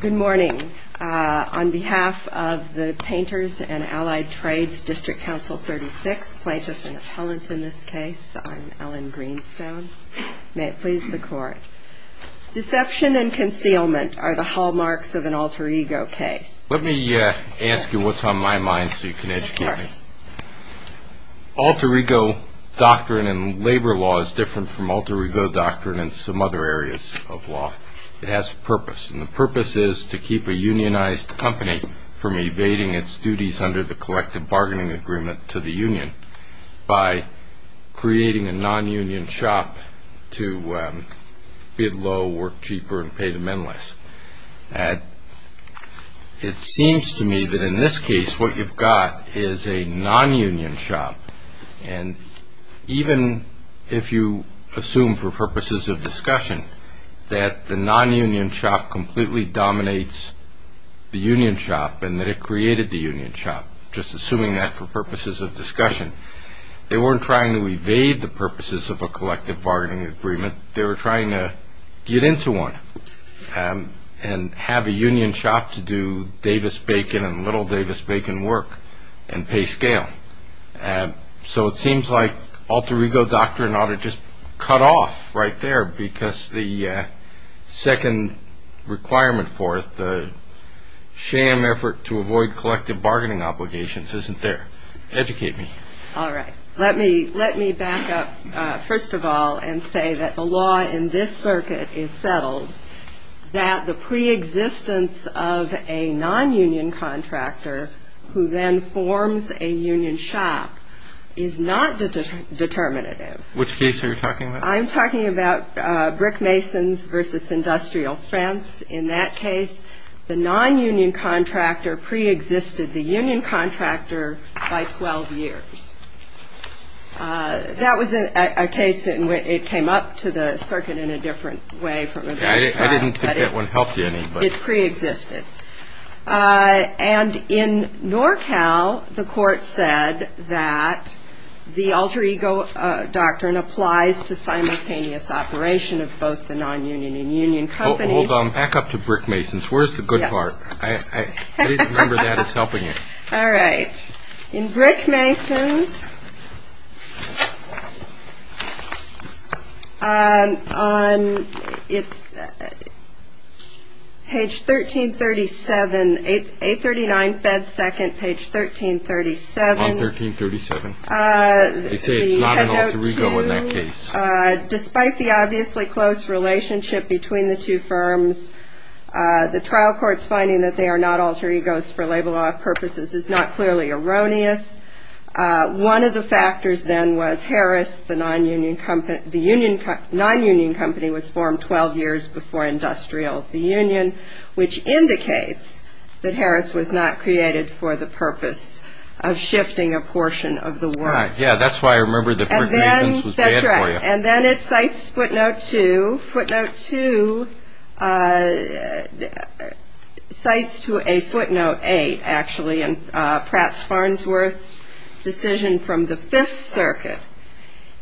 Good morning. On behalf of the Painters and Allied Trades District Council 36, Plaintiff and Appellant in this case, I'm Ellen Greenstone. May it please the Court. Deception and concealment are the hallmarks of an alter ego case. Let me ask you what's on my mind so you can educate me. Alter ego doctrine in labor law is different from alter ego doctrine in some other areas of law. It has a purpose, and the purpose is to keep a unionized company from evading its duties under the collective bargaining agreement to the union by creating a nonunion shop to bid low, work cheaper, and pay the men less. It seems to me that in this case what you've got is a nonunion shop, and even if you assume for purposes of discussion that the nonunion shop completely dominates the union shop and that it created the union shop, just assuming that for purposes of discussion, they weren't trying to evade the purposes of a collective bargaining agreement. They were trying to get into one and have a union shop to do Davis-Bacon and little Davis-Bacon work and pay scale. So it seems like alter ego doctrine ought to just cut off right there because the second requirement for it, the sham effort to avoid collective bargaining obligations, isn't there. Educate me. All right. Let me back up first of all and say that the law in this circuit is settled, that the pre-existence of a nonunion contractor who then forms a union shop is not determinative. Which case are you talking about? I'm talking about Brickmason's versus Industrial Fence. In that case, the nonunion contractor pre-existed the union contractor by 12 years. That was a case in which it came up to the circuit in a different way from it did. I didn't think that one helped you any. It pre-existed. And in NorCal, the court said that the alter ego doctrine applies to simultaneous operation of both the nonunion and union company. Hold on. Back up to Brickmason's. Where's the good part? I didn't remember that as helping it. All right. In Brickmason's, on page 1337, 839 Fed 2nd, page 1337. On 1337. They say it's not an alter ego in that case. Despite the obviously close relationship between the two firms, the trial court's finding that they are not alter egos for labor law purposes is not clearly erroneous. One of the factors then was Harris, the nonunion company was formed 12 years before Industrial, the union, which indicates that Harris was not created for the purpose of shifting a portion of the work. Yeah, that's why I remember the Brickmason's was bad for you. And then it cites footnote 2. Footnote 2 cites to a footnote 8, actually, in Pratt's Farnsworth decision from the Fifth Circuit,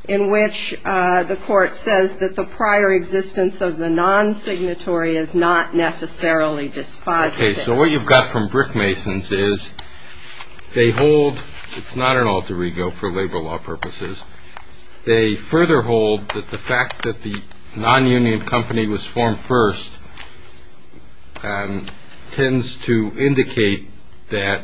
in which the court says that the prior existence of the non-signatory is not necessarily dispositive. Okay. So what you've got from Brickmason's is they hold it's not an alter ego for labor law purposes. They further hold that the fact that the nonunion company was formed first tends to indicate that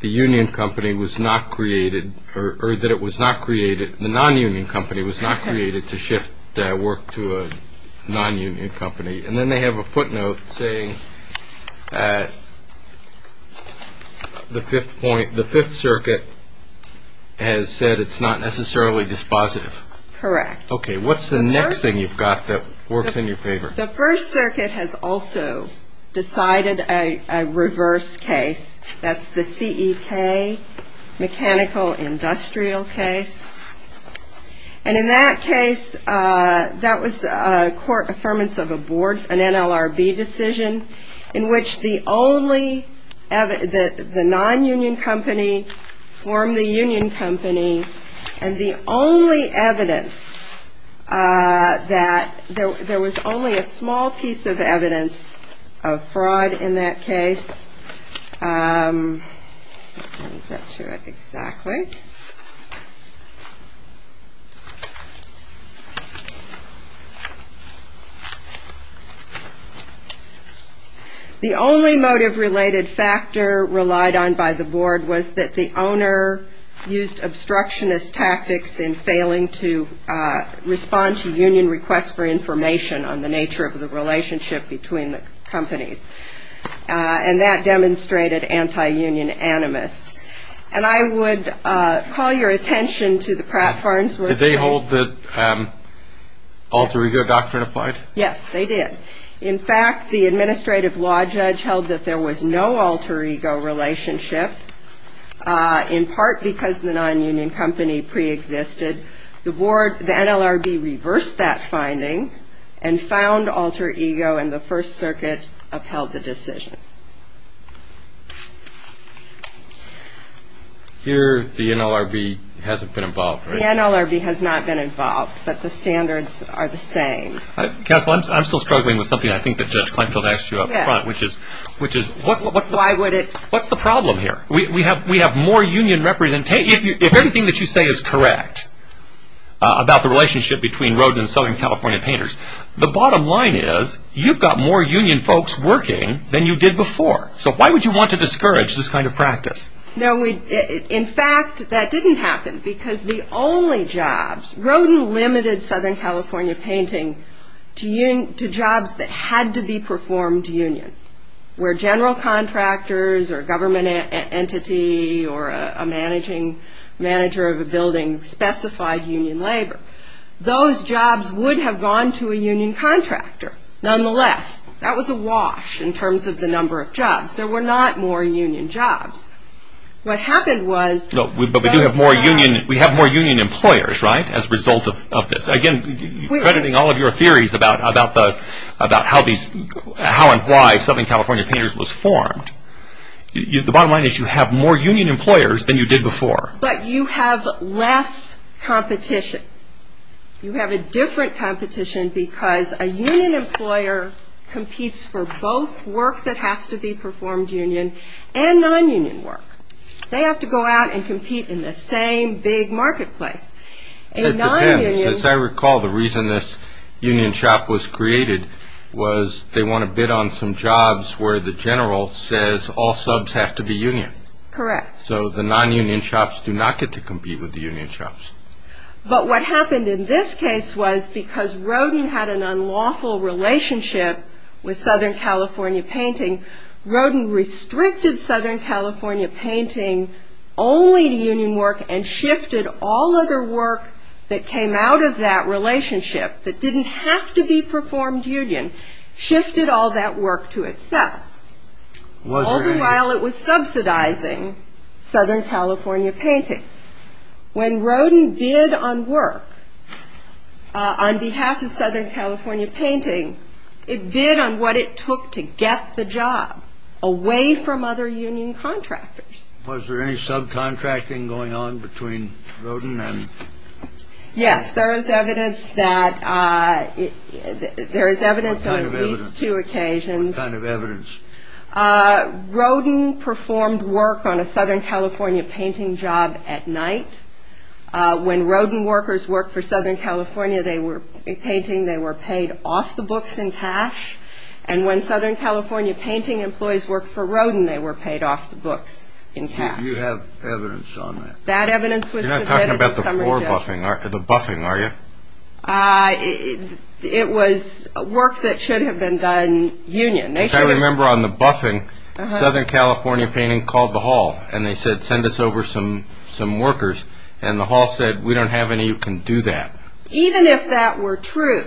the union company was not created or that it was not created, the nonunion company was not created to shift work to a nonunion company. And then they have a footnote saying the Fifth Circuit has said it's not necessarily dispositive. Correct. Okay. What's the next thing you've got that works in your favor? The First Circuit has also decided a reverse case. That's the C.E.K. mechanical industrial case. And in that case, that was a court affirmance of a board, an NLRB decision, in which the only, the nonunion company formed the union company, and the only evidence that, there was only a small piece of evidence of fraud in that case. The only motive-related factor relied on by the board was that the owner used obstructionist tactics in failing to respond to union requests for information on the nature of the relationship between the companies. And that demonstrated anti-union animus. And I would call your attention to the Pratt-Farnsworth case. Did they hold that alter ego doctrine applied? Yes, they did. In fact, the administrative law judge held that there was no alter ego relationship, in part because the nonunion company preexisted. The NLRB reversed that finding and found alter ego, and the First Circuit upheld the decision. Here, the NLRB hasn't been involved, right? The NLRB has not been involved, but the standards are the same. Counsel, I'm still struggling with something I think that Judge Kleinfeld asked you up front, which is, what's the problem here? We have more union representation. If anything that you say is correct about the relationship between Rodin and Southern California Painters, the bottom line is you've got more union folks working than you did before. So why would you want to discourage this kind of practice? In fact, that didn't happen, because the only jobs, Rodin limited Southern California Painting to jobs that had to be performed to union, where general contractors or government entity or a manager of a building specified union labor. Those jobs would have gone to a union contractor, nonetheless. That was a wash in terms of the number of jobs. There were not more union jobs. What happened was... But we do have more union employers, right, as a result of this. Again, crediting all of your theories about how and why Southern California Painters was formed, the bottom line is you have more union employers than you did before. But you have less competition. You have a different competition because a union employer competes for both work that has to be performed union and non-union work. They have to go out and compete in the same big marketplace. It depends. As I recall, the reason this union shop was created was they want to bid on some jobs where the general says all subs have to be union. Correct. So the non-union shops do not get to compete with the union shops. But what happened in this case was because Rodin had an unlawful relationship with Southern California Painting, Rodin restricted Southern California Painting only to union work and shifted all other work that came out of that relationship that didn't have to be performed union, shifted all that work to itself. Was there any? All the while it was subsidizing Southern California Painting. When Rodin bid on work on behalf of Southern California Painting, it bid on what it took to get the job away from other union contractors. Was there any subcontracting going on between Rodin and? Yes. There is evidence that there is evidence on these two occasions. What kind of evidence? Rodin performed work on a Southern California Painting job at night. When Rodin workers worked for Southern California Painting, they were paid off the books in cash. And when Southern California Painting employees worked for Rodin, they were paid off the books in cash. You have evidence on that? That evidence was submitted. You're not talking about the floor buffing, the buffing, are you? It was work that should have been done union. I remember on the buffing, Southern California Painting called the hall, and they said, send us over some workers. And the hall said, we don't have any who can do that. Even if that were true,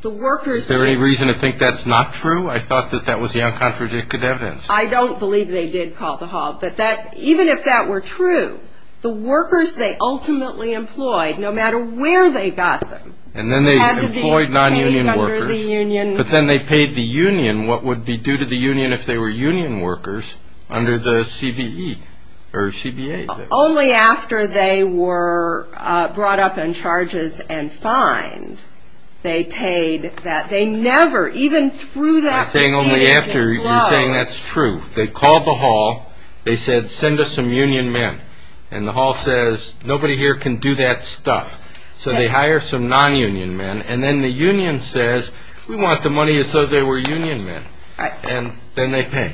the workers… Is there any reason to think that's not true? I thought that that was the uncontradicted evidence. I don't believe they did call the hall. But even if that were true, the workers they ultimately employed, no matter where they got them, had to be paid under the union. And what would be due to the union if they were union workers under the CBE or CBA? Only after they were brought up in charges and fined, they paid that. They never, even through that proceedings, disclosed… You're saying only after. You're saying that's true. They called the hall. They said, send us some union men. And the hall says, nobody here can do that stuff. So they hire some non-union men. And then the union says, we want the money as though they were union men. And then they pay.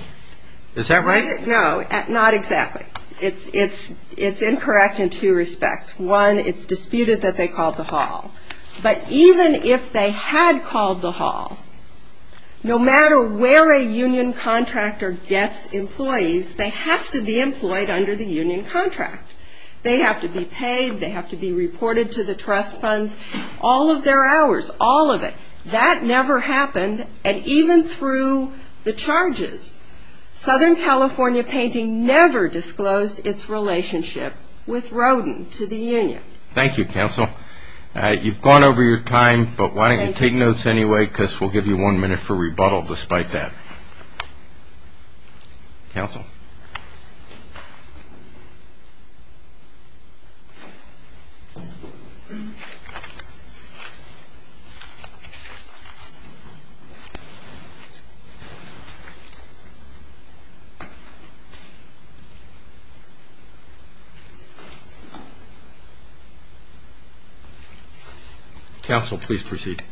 Is that right? No, not exactly. It's incorrect in two respects. One, it's disputed that they called the hall. But even if they had called the hall, no matter where a union contractor gets employees, they have to be employed under the union contract. They have to be paid. They have to be reported to the trust funds. All of their hours, all of it. That never happened. And even through the charges, Southern California Painting never disclosed its relationship with Rodin to the union. Thank you, counsel. You've gone over your time, but why don't you take notes anyway, because we'll give you one minute for rebuttal despite that. Counsel. Counsel, please proceed. Thank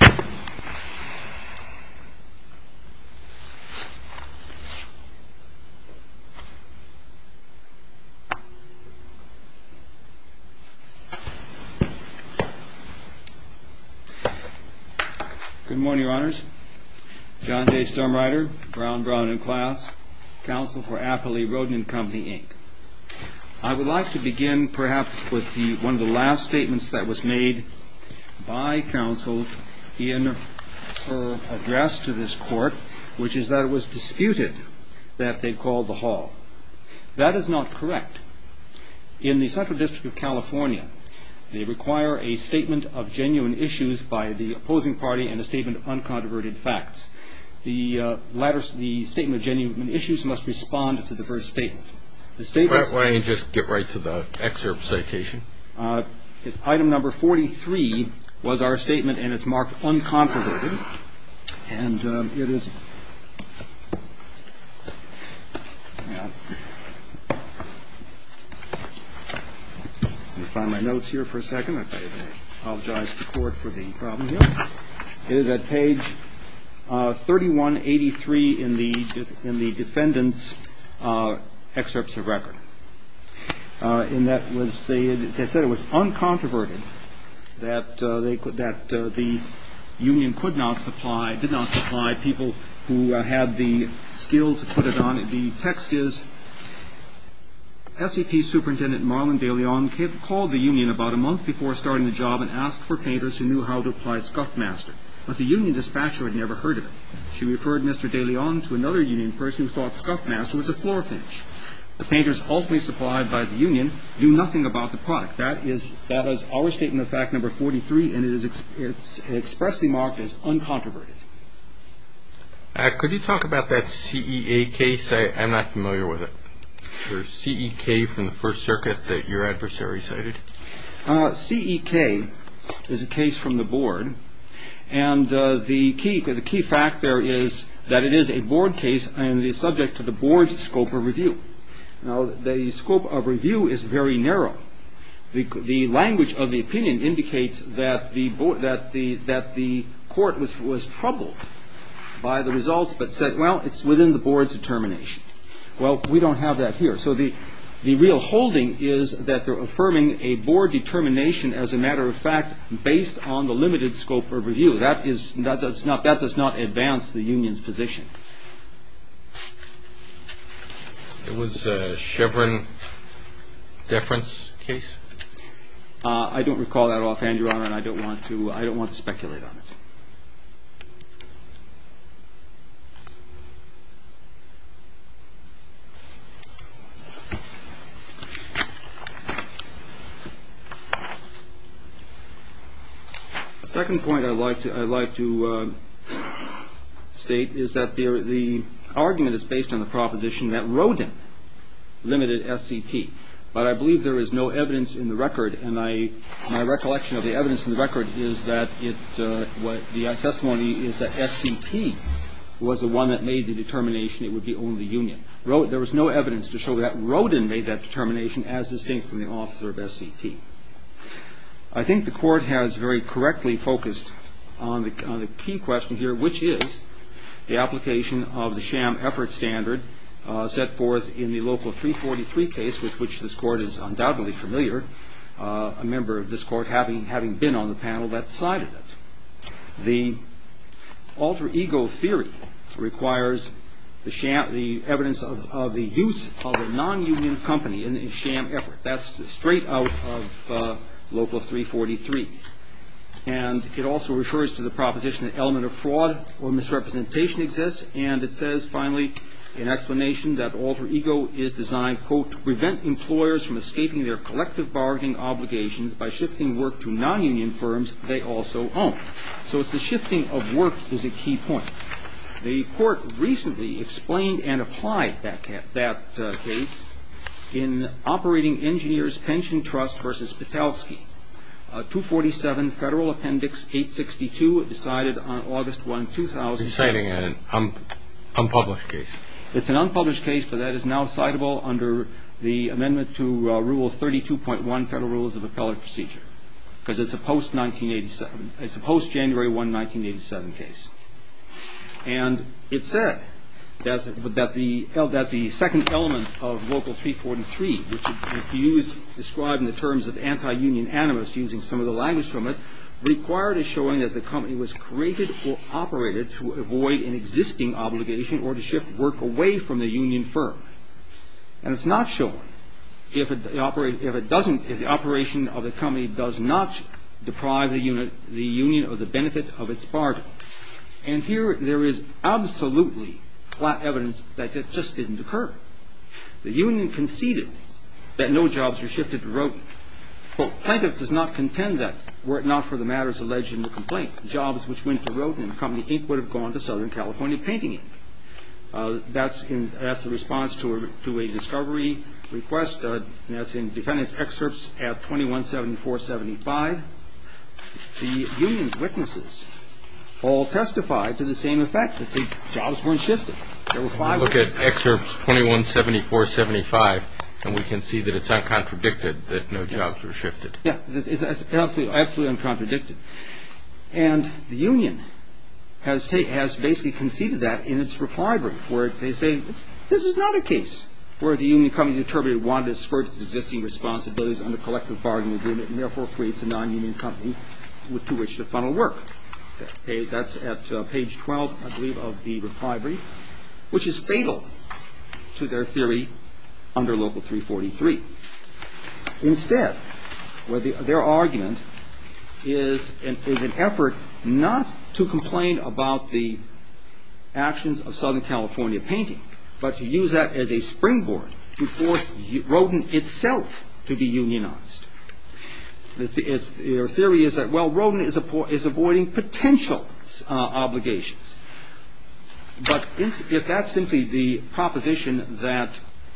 you. Good morning, Your Honors. John J. Sturmreiter, Brown, Brown & Class, counsel for Appley Rodin & Company, Inc. I would like to begin perhaps with one of the last statements that was made by counsel in her address to this court, which is that it was disputed that they called the hall. That is not correct. In the Central District of California, they require a statement of genuine issues by the opposing party and a statement of uncontroverted facts. The statement of genuine issues must respond to the first statement. Why don't you just get right to the excerpt citation? Item number 43 was our statement, and it's marked uncontroverted, and it is at page 3183 in the defendant's excerpts of record. And that was, as I said, it was uncontroverted that the union could not supply, did not supply people who had the skill to put it on. The text is, SEP Superintendent Marlon de Leon called the union about a month before starting the job and asked for painters who knew how to apply scuff master, but the union dispatcher had never heard of it. She referred Mr. de Leon to another union person who thought scuff master was a floor finish. The painters ultimately supplied by the union knew nothing about the product. That is our statement of fact number 43, and it is expressly marked as uncontroverted. Could you talk about that CEA case? I'm not familiar with it. There's CEK from the First Circuit that your adversary cited. CEK is a case from the board, and the key fact there is that it is a board case and is subject to the board's scope of review. Now, the scope of review is very narrow. The language of the opinion indicates that the court was troubled by the results but said, well, it's within the board's determination. Well, we don't have that here, so the real holding is that they're affirming a board determination, as a matter of fact, based on the limited scope of review. That does not advance the union's position. It was a Chevron deference case? I don't recall that offhand, Your Honor, and I don't want to speculate on it. The second point I'd like to state is that the argument is based on the proposition that Rodin limited SCP, but I believe there is no evidence in the record, and my recollection of the evidence in the record is that the testimony is that SCP was the one that made the determination it would be only union. There was no evidence to show that Rodin made that determination as distinct from the officer of SCP. I think the court has very correctly focused on the key question here, which is the application of the sham effort standard set forth in the local 343 case, with which this court is undoubtedly familiar, a member of this court having been on the panel that decided it. The alter ego theory requires the evidence of the use of a non-union company in a sham effort. That's straight out of local 343. And it also refers to the proposition that element of fraud or misrepresentation exists, and it says, finally, an explanation that alter ego is designed, quote, to prevent employers from escaping their collective bargaining obligations by shifting work to non-union firms they also own. So it's the shifting of work is a key point. The court recently explained and applied that case in Operating Engineers Pension Trust v. Patowski. 247 Federal Appendix 862 decided on August 1, 2000. You're citing an unpublished case. It's an unpublished case, but that is now citable under the amendment to Rule 32.1 Federal Rules of Appellate Procedure, because it's a post-January 1, 1987 case. And it said that the second element of local 343, which is used to describe in the terms of anti-union animus, using some of the language from it, required a showing that the company was created or operated to avoid an existing obligation or to shift work away from the union firm. And it's not shown if the operation of the company does not deprive the union of the benefit of its bargain. And here there is absolutely flat evidence that it just didn't occur. The union conceded that no jobs were shifted to roting. Quote, plaintiff does not contend that were it not for the matters alleged in the complaint, the jobs which went to roting in the company, Inc., would have gone to Southern California Painting, Inc. That's the response to a discovery request. That's in defendant's excerpts at 2174-75. The union's witnesses all testified to the same effect, that the jobs weren't shifted. Look at excerpts 2174-75, and we can see that it's uncontradicted that no jobs were shifted. Yeah, it's absolutely uncontradicted. And the union has basically conceded that in its reply brief where they say, this is not a case where the union company interpreted it wanted to skirt its existing responsibilities under collective bargain agreement and therefore creates a non-union company to which to funnel work. That's at page 12, I believe, of the reply brief, which is fatal to their theory under Local 343. Instead, their argument is an effort not to complain about the actions of Southern California Painting, but to use that as a springboard to force Rodin itself to be unionized. Their theory is that, well, Rodin is avoiding potential obligations. But if that's simply the proposition that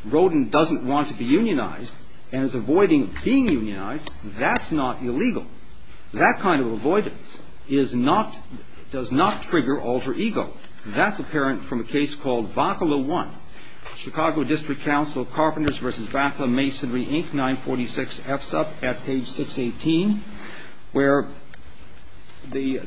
Rodin doesn't want to be unionized and is avoiding being unionized, that's not illegal. That kind of avoidance is not – does not trigger alter ego. That's apparent from a case called Vacala 1, Chicago District Council Carpenters v. Vacala Masonry, Inc., 946 F. Supp., at page 618, where the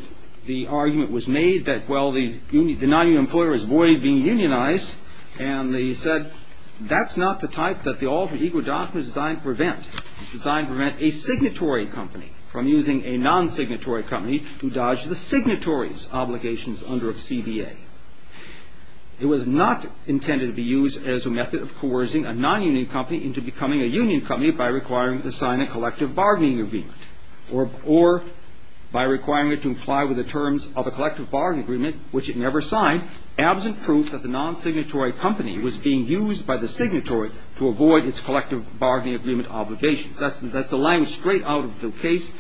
argument was made that, well, the non-union employer is avoiding being unionized. And they said that's not the type that the alter ego doctrine is designed to prevent. It's designed to prevent a signatory company from using a non-signatory company to dodge the signatory's obligations under a CBA. It was not intended to be used as a method of coercing a non-union company into becoming a union company by requiring it to sign a collective bargaining agreement or by requiring it to comply with the terms of a collective bargaining agreement, which it never signed, absent proof that the non-signatory company was being used by the signatory to avoid its collective bargaining agreement obligations. That's a language straight out of the case.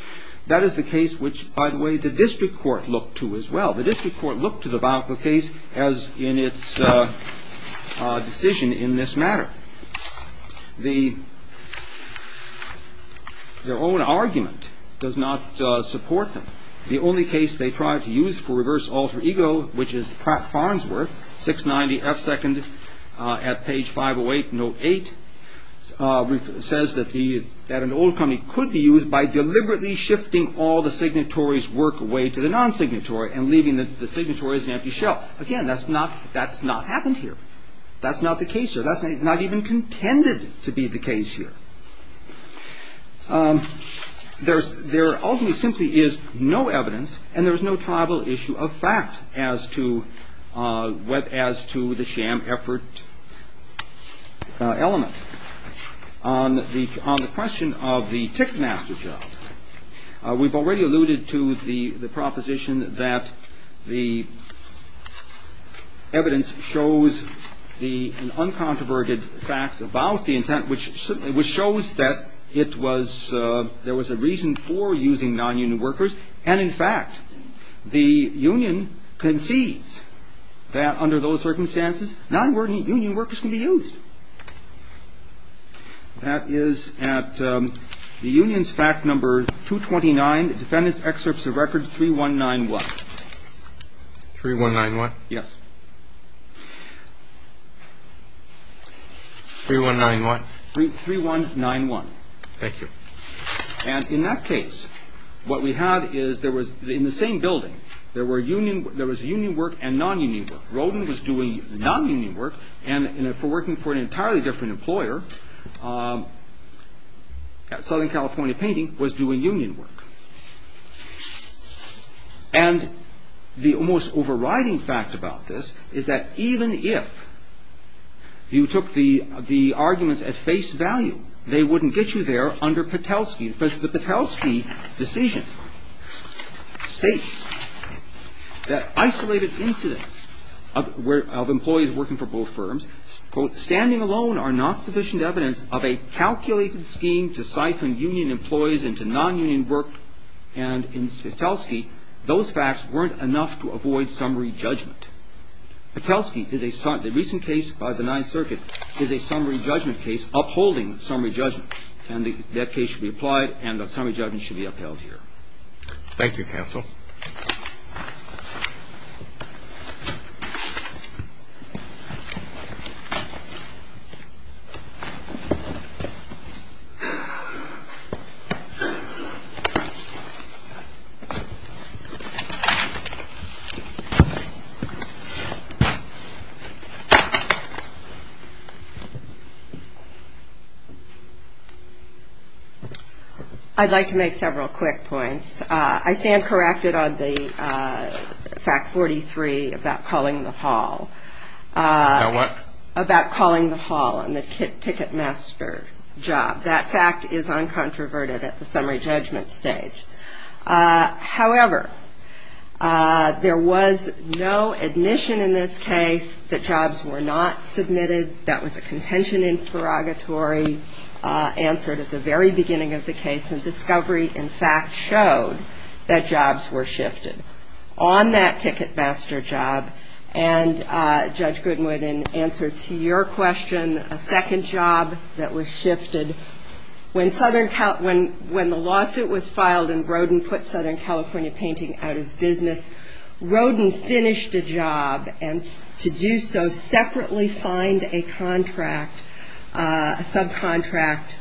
That is the case which, by the way, the district court looked to as well. The district court looked to the Vacala case as in its decision in this matter. Their own argument does not support them. The only case they tried to use for reverse alter ego, which is Pratt-Farnsworth, 690F2nd, at page 508, note 8, says that an old company could be used by deliberately shifting all the signatory's work away to the non-signatory and leaving the signatory as an empty shell. Again, that's not happened here. That's not the case here. That's not even contended to be the case here. There ultimately simply is no evidence and there is no tribal issue of fact as to the sham effort element. On the question of the tick master job, we've already alluded to the proposition that the evidence shows the uncontroverted facts about the intent, which shows that it was ‑‑ there was a reason for using nonunion workers. And, in fact, the union concedes that under those circumstances, nonunion workers can be used. That is at the union's fact number 229, defendant's excerpts of record 3191. 3191? Yes. 3191? 3191. Thank you. And in that case, what we had is there was, in the same building, there was union work and nonunion work. Roden was doing nonunion work and, for working for an entirely different employer, Southern California Painting was doing union work. And the almost overriding fact about this is that even if you took the arguments at face value, they wouldn't get you there under Patelsky. Because the Patelsky decision states that isolated incidents of employees working for both firms, quote, standing alone are not sufficient evidence of a calculated scheme to siphon union employees into nonunion work. And in Patelsky, those facts weren't enough to avoid summary judgment. Patelsky is a ‑‑ the recent case by the Ninth Circuit is a summary judgment case upholding summary judgment. And that case should be applied, and the summary judgment should be upheld here. I'd like to make several quick points. I stand corrected on the fact 43 about calling the hall. About what? About calling the hall on the ticketmaster job. That fact is uncontroverted at the summary judgment stage. However, there was no admission in this case that jobs were not submitted. That was a contention in prerogatory answered at the very beginning of the case. And discovery and fact showed that jobs were shifted. On that ticketmaster job, and Judge Goodwin, in answer to your question, a second job that was shifted, when the lawsuit was filed and Rodin put Southern California Painting out of business, Rodin finished a job and to do so separately signed a contract, a subcontract,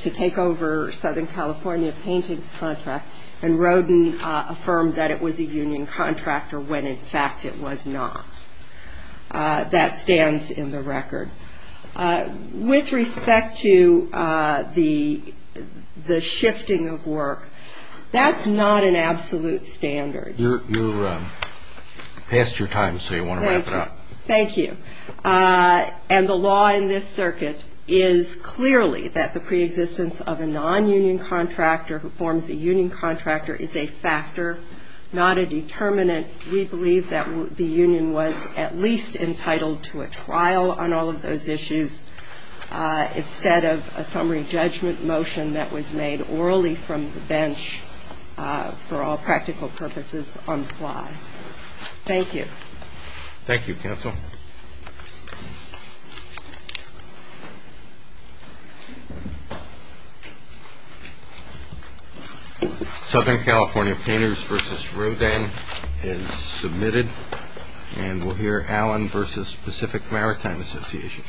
to take over Southern California Painting's contract, and Rodin affirmed that it was a union contract, or when in fact it was not. That stands in the record. With respect to the shifting of work, that's not an absolute standard. You're past your time, so you want to wrap it up. Thank you. Thank you. And the law in this circuit is clearly that the preexistence of a nonunion contractor who forms a union contractor is a factor, not a determinant. We believe that the union was at least entitled to a trial on all of those issues instead of a summary judgment motion that was made orally from the bench for all practical purposes on the fly. Thank you. Thank you, Counsel. Southern California Painters v. Rodin is submitted, and we'll hear Allen v. Pacific Maritime Association.